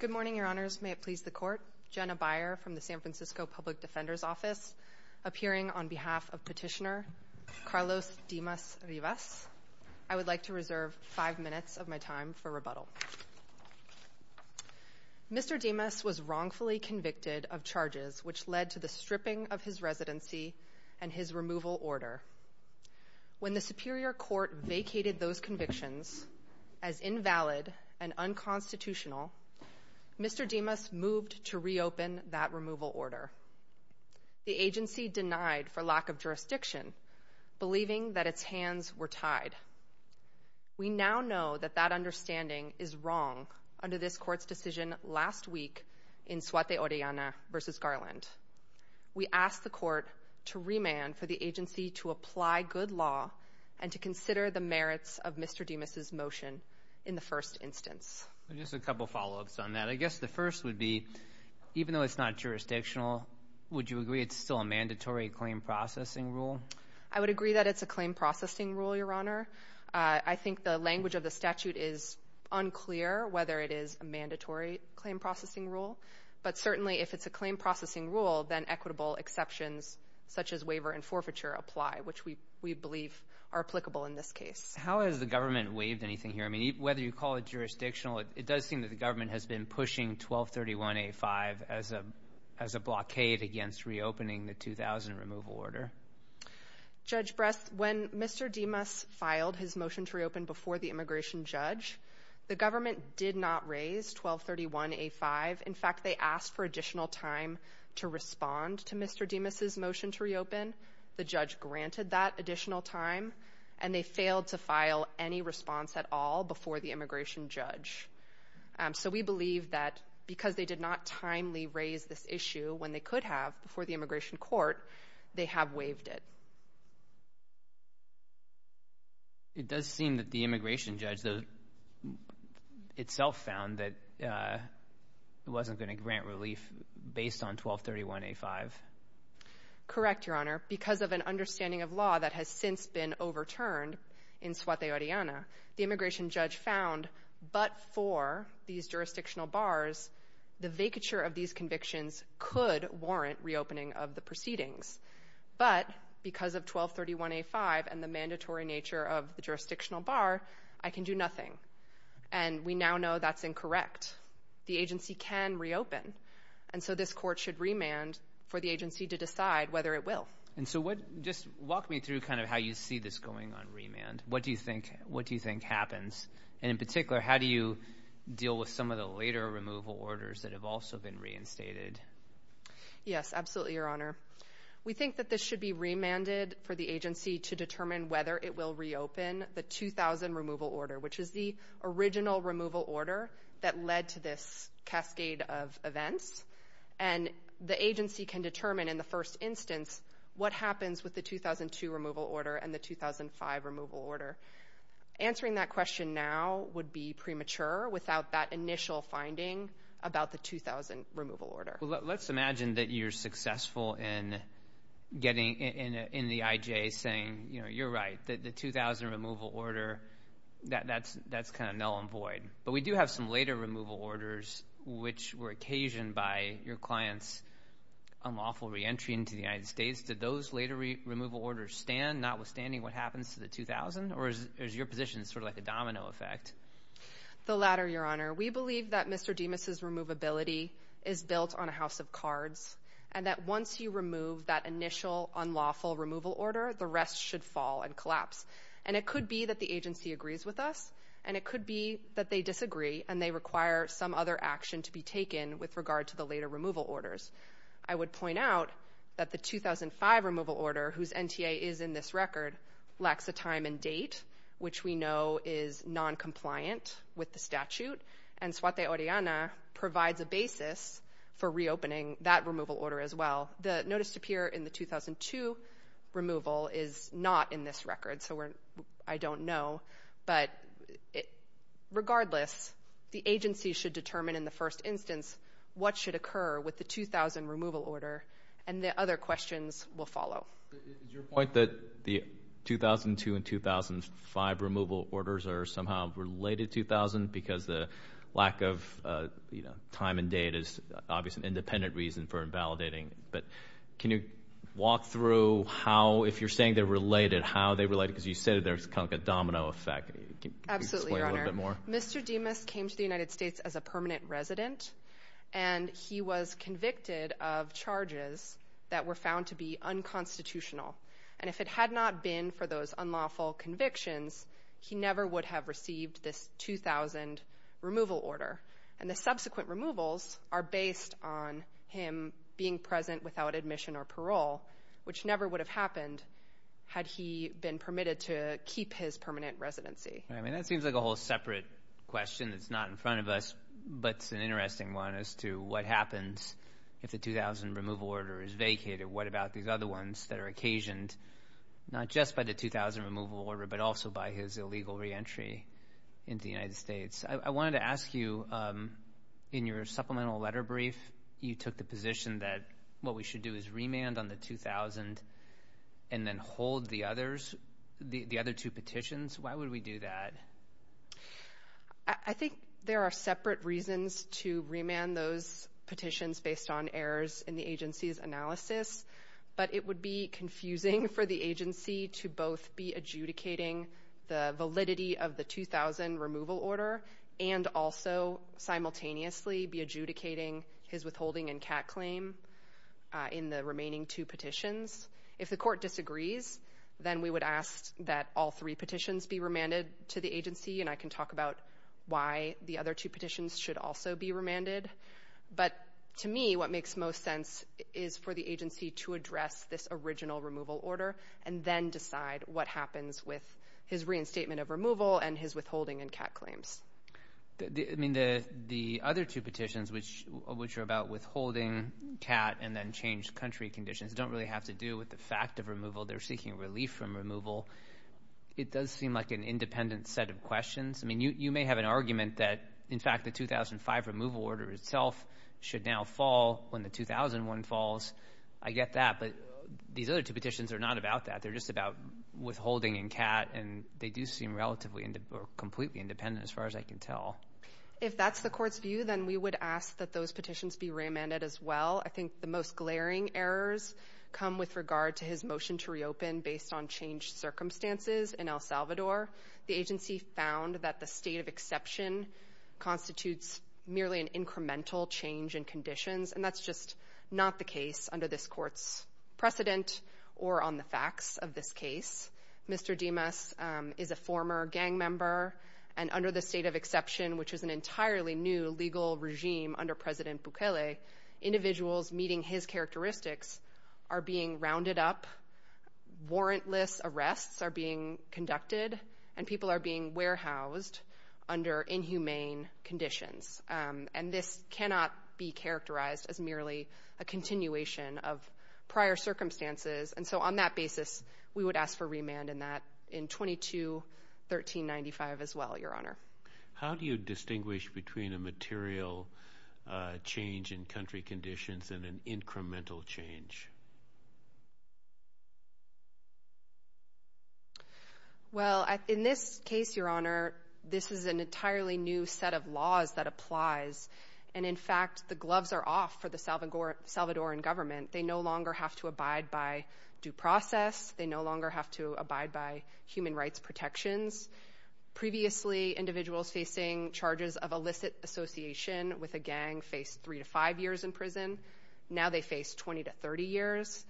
Good morning, Your Honors. May it please the Court. Jenna Byer from the San Francisco Public Defender's Office, appearing on behalf of Petitioner Carlos Dimas-Rivas. I would like to reserve five minutes of my time for rebuttal. Mr. Dimas was wrongfully convicted of charges which led to the stripping of his residency and his removal order. When the Superior Court vacated those convictions as invalid and unconstitutional, Mr. Dimas moved to reopen that removal order. The agency denied for lack of jurisdiction, believing that its hands were tied. We now know that that understanding is wrong under this Court's decision last week in Suete Oriana v. Garland. We ask the Court to remand for the agency to apply good law and to consider the merits of Mr. Dimas's motion in the first instance. Just a couple follow-ups on that. I guess the first would be, even though it's not jurisdictional, would you agree it's still a mandatory claim processing rule? I would agree that it's a claim processing rule, Your Honor. I think the language of the statute is unclear whether it is a mandatory claim processing rule, but certainly if it's a claim processing rule, then equitable exceptions such as waiver and forfeiture apply, which we believe are applicable in this case. How has the government waived anything here? I mean, whether you call it jurisdictional, it does seem that the government has been pushing 1231A5 as a blockade against reopening the 2000 removal order. Judge Brest, when Mr. Dimas filed his motion to reopen before the immigration judge, the government did not raise 1231A5. In fact, they asked for additional time to respond to Mr. Dimas's motion to reopen. The judge granted that additional time, and they failed to file any response at all before the immigration judge. So we believe that because they did not timely raise this issue when they could have before the immigration court, they have waived it. It does seem that the immigration judge, though, itself found that it wasn't going to grant relief based on 1231A5. Correct, Your Honor. Because of an understanding of law that has since been overturned in Suaté Oriana, the immigration judge found, but for these jurisdictional bars, the vacature of these convictions could warrant reopening of the proceedings. But because of 1231A5 and the mandatory nature of the jurisdictional bar, I can do nothing. And we now know that's And so this court should remand for the agency to decide whether it will. And so just walk me through kind of how you see this going on remand. What do you think happens? And in particular, how do you deal with some of the later removal orders that have also been reinstated? Yes, absolutely, Your Honor. We think that this should be remanded for the agency to determine whether it will reopen the 2000 removal order, which is the original removal order that led to this cascade of events. And the agency can determine in the first instance what happens with the 2002 removal order and the 2005 removal order. Answering that question now would be premature without that initial finding about the 2000 removal order. Well, let's imagine that you're successful in getting in the IJ saying, you know, you're Right. The 2000 removal order, that's kind of null and void. But we do have some later removal orders which were occasioned by your client's unlawful reentry into the United States. Did those later removal orders stand, notwithstanding what happens to the 2000? Or is your position sort of like a domino effect? The latter, Your Honor. We believe that Mr. Demas' removability is built on a house of cards and that once you remove that initial unlawful removal order, the rest should fall and collapse. And it could be that the agency agrees with us, and it could be that they disagree and they require some other action to be taken with regard to the later removal orders. I would point out that the 2005 removal order, whose NTA is in this record, lacks a time and date, which we know is noncompliant with the statute. And Suaté Oriana provides a basis for reopening that removal order as well. The notice to appear in the 2002 removal is not in this record, so I don't know. But regardless, the agency should determine in the first instance what should occur with the 2000 removal order, and the other questions will follow. Is your point that the 2002 and 2005 removal orders are somehow related to 2000 because the lack of time and date is obviously an independent reason for invalidating? But can you walk through how, if you're saying they're related, how they're related? Because you said there's kind of a domino effect. Can you explain a little bit more? Absolutely, Your Honor. Mr. Dimas came to the United States as a permanent resident, and he was convicted of charges that were found to be unconstitutional. And if it had not been for those unlawful convictions, he never would have received this 2000 removal order. And the subsequent removals are based on him being present without admission or parole, which never would have happened had he been permitted to keep his permanent residency. I mean, that seems like a whole separate question that's not in front of us, but it's an interesting one as to what happens if the 2000 removal order is vacated. What about these other ones that are occasioned not just by the 2000 removal order, but also by his illegal reentry into the United States? I wanted to ask you, in your supplemental letter brief, you took the remand on the 2000 and then hold the other two petitions. Why would we do that? I think there are separate reasons to remand those petitions based on errors in the agency's analysis, but it would be confusing for the agency to both be adjudicating the validity of the 2000 removal order and also simultaneously be adjudicating his withholding and CAT claim in the remaining two petitions. If the court disagrees, then we would ask that all three petitions be remanded to the agency, and I can talk about why the other two petitions should also be remanded. But to me, what makes most sense is for the agency to address this original removal order and then decide what happens with his reinstatement of removal and his withholding and CAT claims. I mean, the other two petitions, which are about withholding, CAT, and then change country conditions, don't really have to do with the fact of removal. They're seeking relief from removal. It does seem like an independent set of questions. I mean, you may have an argument that, in fact, the 2005 removal order itself should now fall when the 2001 falls. I get that, but these other two petitions are not about that. They're just about withholding and CAT, and they do seem completely independent as far as I can tell. If that's the court's view, then we would ask that those petitions be remanded as well. I think the most glaring errors come with regard to his motion to reopen based on changed circumstances in El Salvador. The agency found that the state of exception constitutes merely an incremental change in conditions, and that's just not the case under this court's precedent or on the facts of this case. Mr. Dimas is a former gang member, and under the state of exception, which is an entirely new legal regime under President Bukele, individuals meeting his characteristics are being rounded up, warrantless arrests are being conducted, and people are being warehoused under inhumane conditions. And this cannot be characterized as merely a continuation of the state of exception. We would ask for remand in that in 22-1395 as well, Your Honor. How do you distinguish between a material change in country conditions and an incremental change? Well, in this case, Your Honor, this is an entirely new set of laws that applies, and in fact, the gloves are off for the Salvadoran government. They no longer have to abide by due process. They no longer have to abide by human rights protections. Previously, individuals facing charges of illicit association with a gang faced three to five years in prison. Now they face 20 to 30 years.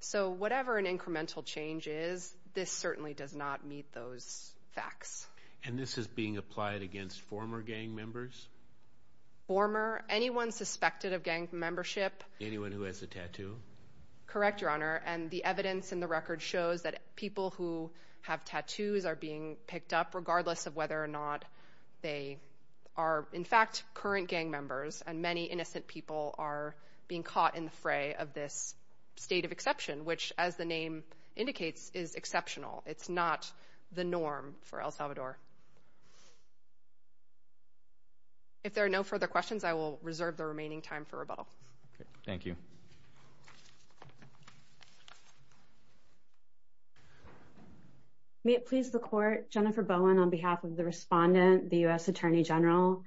So whatever an incremental change is, this certainly does not meet those facts. And this is being applied against former gang members? Former? Anyone suspected of gang membership? Anyone who has a tattoo? Correct, Your Honor. And the evidence in the record shows that people who have tattoos are being picked up regardless of whether or not they are, in fact, current gang members. And many innocent people are being caught in the fray of this state of exception, which, as the name indicates, is exceptional. It's not the norm for El Salvador. If there are no further questions, I will reserve the remaining time for rebuttal. Okay, thank you. May it please the Court. Jennifer Bowen on behalf of the respondent, the U.S. Attorney General.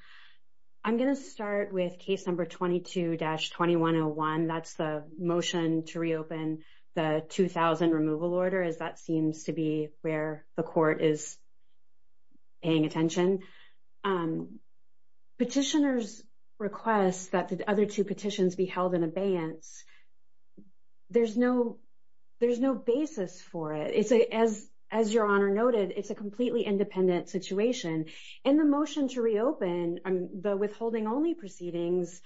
I'm going to start with case number 22-2101. That's the motion to reopen the 2000 removal order, as that seems to be where the Court is paying attention. Petitioners request that the other two petitions be held in abeyance. There's no basis for it. As Your Honor noted, it's a completely independent situation. In the motion to reopen, the withholding only proceedings,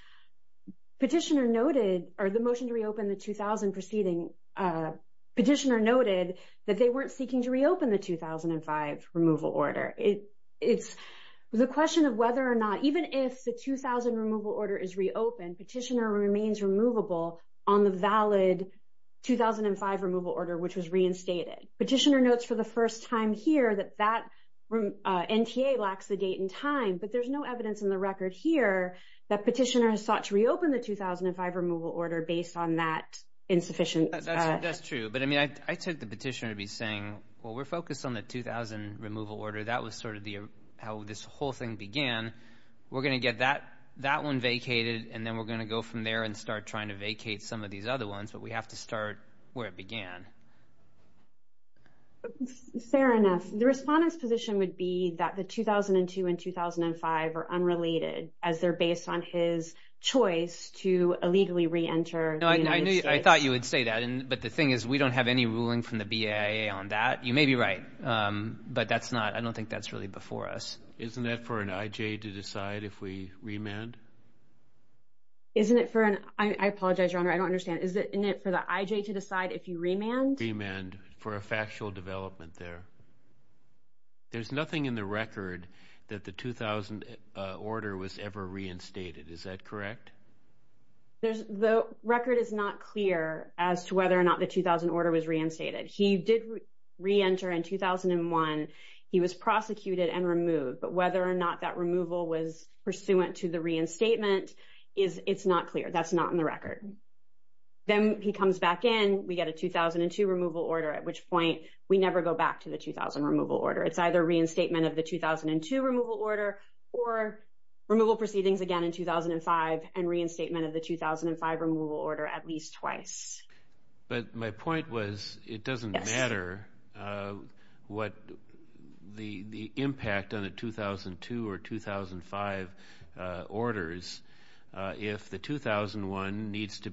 petitioner noted, or the motion to reopen the 2000 proceeding, petitioner noted that they weren't seeking to reopen the 2005 removal order. It's the question of whether or not, even if the 2000 removal order is reopened, petitioner remains removable on the valid 2005 removal order, which was reinstated. Petitioner notes for the first time here that that NTA lacks the date and time, but there's no evidence in the record here that petitioner has sought to reopen the 2005 removal order based on that insufficient... That's true, but I mean, I took the petitioner to be saying, well, we're focused on the 2000 removal order. That was sort of how this whole thing began. We're going to get that one vacated, and then we're going to go from there and start trying to vacate some of these other ones, but we have to start where it began. Fair enough. The respondent's position would be that the 2002 and 2005 are unrelated as they're based on his choice to illegally re-enter the United States. No, I thought you would say that, but the thing is we don't have any ruling from the BIA on that. You may be right, but that's not... I don't think that's really before us. Isn't it for an IJ to decide if we remand? Isn't it for an... I apologize, Your Honor, I don't understand. Isn't it for the IJ to decide if you remand? Remand for a factual development there. There's nothing in the record that the 2000 order was ever reinstated. Is that correct? The record is not clear as to whether or not the 2000 order was reinstated. He did re-enter in 2001. He was prosecuted and removed, but whether or not that removal was pursuant to the reinstatement, it's not clear. That's not in the record. Then he comes back in, we get a 2002 removal order, at which point we never go back to the 2000 removal order. It's either reinstatement of the 2002 removal order or removal proceedings again in 2005 and reinstatement of the 2005 removal order at least twice. But my point was it doesn't matter what the impact on the 2002 or 2005 orders if the 2001 needs to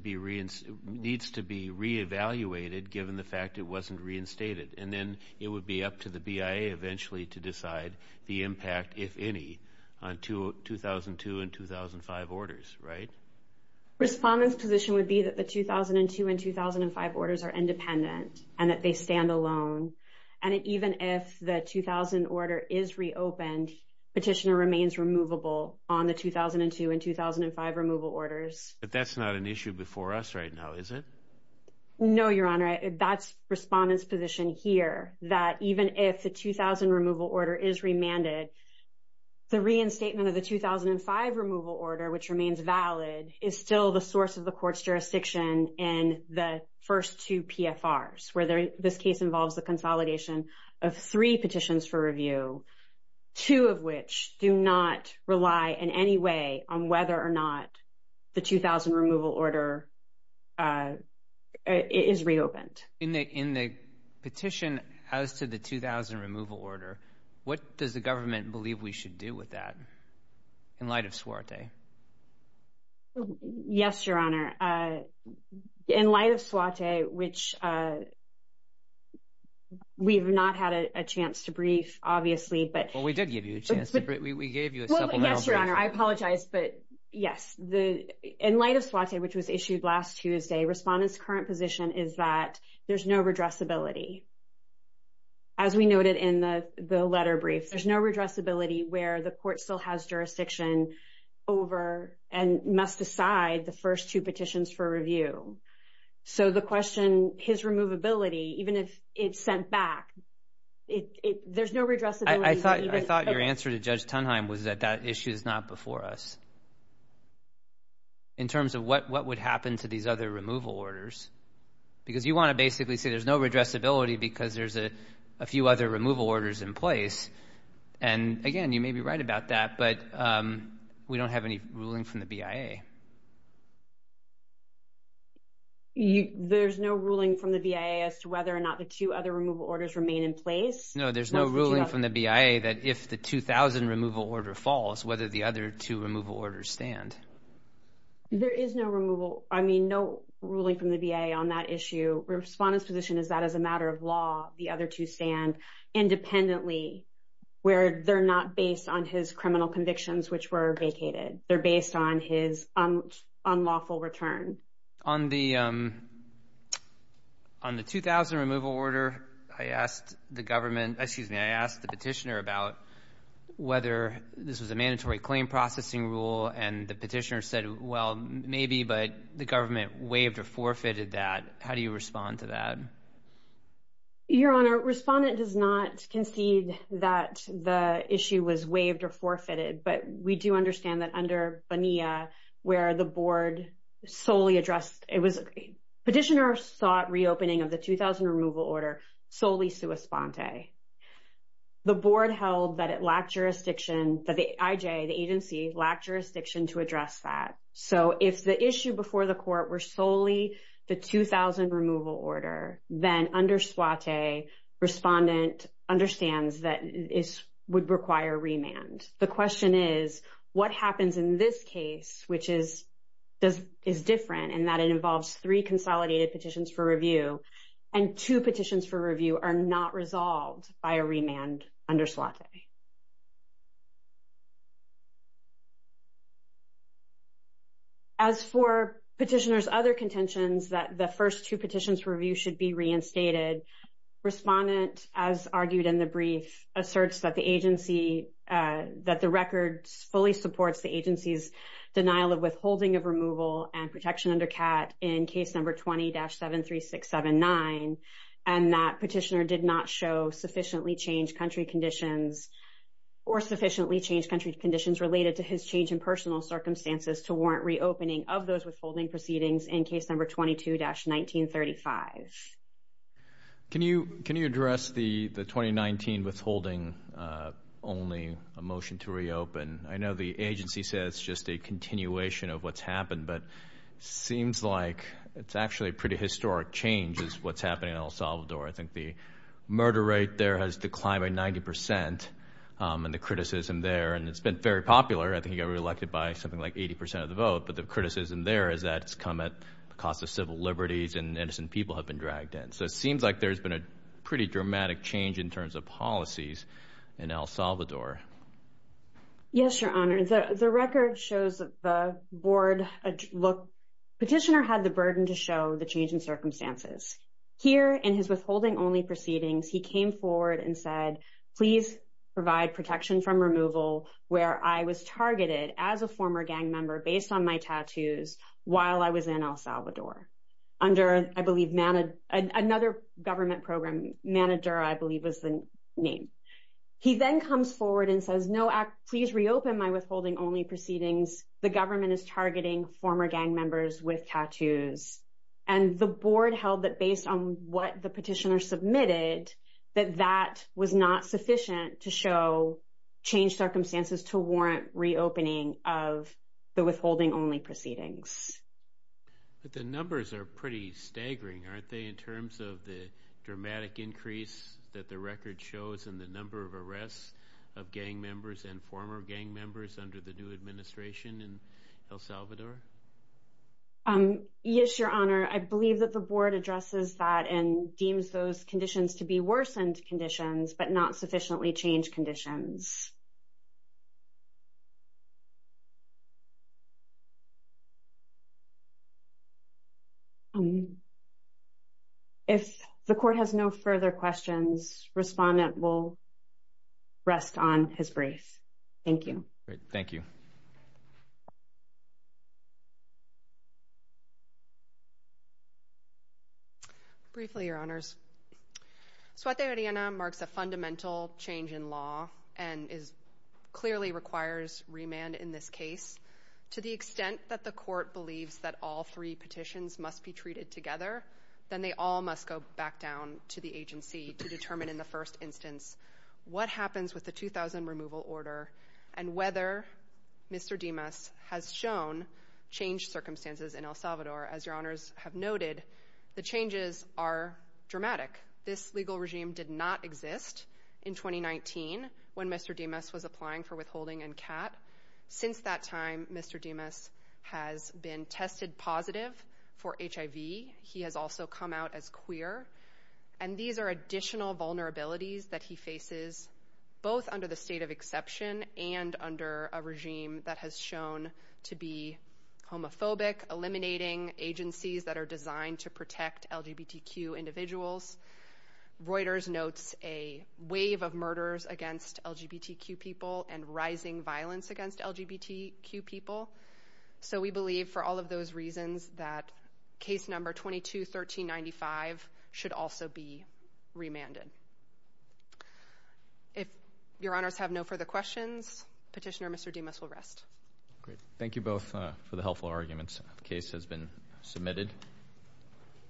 be re-evaluated given the fact it wasn't reinstated. Then it would be up to the BIA eventually to decide the impact, if any, on 2002 and 2005 orders, right? Respondent's position would be that the 2002 and 2005 orders are independent and that they stand alone. Even if the 2000 order is reopened, petitioner remains removable on the 2002 and 2005 removal orders. But that's not an issue before us right now, is it? No, Your Honor. That's Respondent's position here, that even if the 2000 removal order is remanded, the reinstatement of the 2005 removal order, which remains valid, is still the source of the court's jurisdiction in the first two PFRs, where this case involves the consolidation of three petitions for review, two of which do not rely in any way on whether or not the 2000 removal order is reopened. In the petition as to the 2000 removal order, what does the government believe we should do with that in light of SWATE? Yes, Your Honor. In light of SWATE, which we've not had a chance to brief, obviously, but- Well, we did give you a chance to brief. We gave you a supplemental- Well, yes, Your Honor. I apologize, but yes. In light of SWATE, which was issued last Tuesday, Respondent's current position is that there's no redressability. As we noted in the letter brief, there's no redressability where the court still has jurisdiction over and must decide the first two petitions for review. So the question, his removability, even if it's sent back, there's no redressability- I thought your answer to Judge Tunheim was that that issue is not before us, in terms of what would happen to these other removal orders, because you want to basically say there's no redressability because there's a few other removal orders in place. And again, you may be right about that, but we don't have any ruling from the BIA. There's no ruling from the BIA as to whether or not the two other removal orders remain in place? No, there's no ruling from the BIA that if the 2000 removal order falls, whether the other two removal orders stand. There is no removal. I mean, no ruling from the BIA on that issue. Respondent's position is that as a matter of law, the other two stand independently, where they're not based on his criminal convictions, which were vacated. They're based on his unlawful return. On the 2000 removal order, I asked the petitioner about whether this was a mandatory claim processing rule, and the petitioner said, well, maybe, but the government waived or forfeited that. How do you respond to that? Your Honor, Respondent does not concede that the issue was waived or forfeited, but we do understand that under Bonilla, where the board solely addressed, it was, petitioner sought reopening of the 2000 removal order solely sua sponte. The board held that it lacked jurisdiction to address that. So if the issue before the court were solely the 2000 removal order, then under sua te, Respondent understands that it would require remand. The question is, what happens in this case, which is different in that it involves three consolidated petitions for review, and two petitions for review are not resolved by a remand under sua te. As for petitioner's other contentions that the first two petitions for review should be reinstated, Respondent, as argued in the brief, asserts that the agency, that the record fully supports the agency's denial of withholding of removal and protection under CAT in case number 20-73679, and that petitioner did not show sufficiently changed country conditions or sufficiently changed country conditions related to his change in personal circumstances to warrant reopening of those withholding proceedings in case number 22-1935. Can you address the 2019 withholding, only a motion to reopen? I know the agency says it's just a continuation of what's happened, but it seems like it's actually a pretty historic change is what's happening in El Salvador. I think the murder rate there has declined by 90% and the criticism there, and it's been very popular. I think it got reelected by something like 80% of the vote, but the criticism there is that it's come at the cost of civil liberties and innocent people have been dragged in. So it seems like there's been a pretty dramatic change in terms of policies in El Salvador. Yes, Your Honor, the record shows that the board, look, petitioner had the burden to show the change in circumstances. Here in his withholding-only proceedings, he came forward and said, please provide protection from removal where I was targeted as a former gang member based on my tattoos while I was in El Salvador under, I believe, another government program manager, I believe was the name. He then comes forward and says, no, please reopen my withholding-only proceedings. The government is targeting former gang members with tattoos. And the board held that based on what the petitioner submitted, that that was not sufficient to show change circumstances to warrant reopening of the withholding-only proceedings. But the numbers are pretty staggering, aren't they, in terms of the dramatic increase that the record shows and the number of arrests of gang members and former gang members under the new administration in El Salvador? Yes, Your Honor, I believe that the board addresses that and deems those conditions to be worsened conditions, but not sufficiently changed conditions. Okay. If the court has no further questions, respondent will rest on his brace. Thank you. Great. Thank you. Briefly, Your Honors, Suete Mariana marks a fundamental change in law and clearly requires remand in this case. To the extent that the court believes that all three petitions must be treated together, then they all must go back down to the agency to determine in the first instance what happens with the 2000 removal order and whether Mr. Dimas has shown change circumstances in El Salvador. As Your Honors have noted, the changes are dramatic. This legal regime did not since that time Mr. Dimas has been tested positive for HIV. He has also come out as queer. And these are additional vulnerabilities that he faces, both under the state of exception and under a regime that has shown to be homophobic, eliminating agencies that are designed to protect LGBTQ individuals. Reuters notes a wave of murders against LGBTQ people and rising violence against LGBTQ people. So we believe for all of those reasons that case number 22-1395 should also be remanded. If Your Honors have no further questions, petitioner Mr. Dimas will rest. Great. Thank you both for the helpful arguments. Case has been submitted.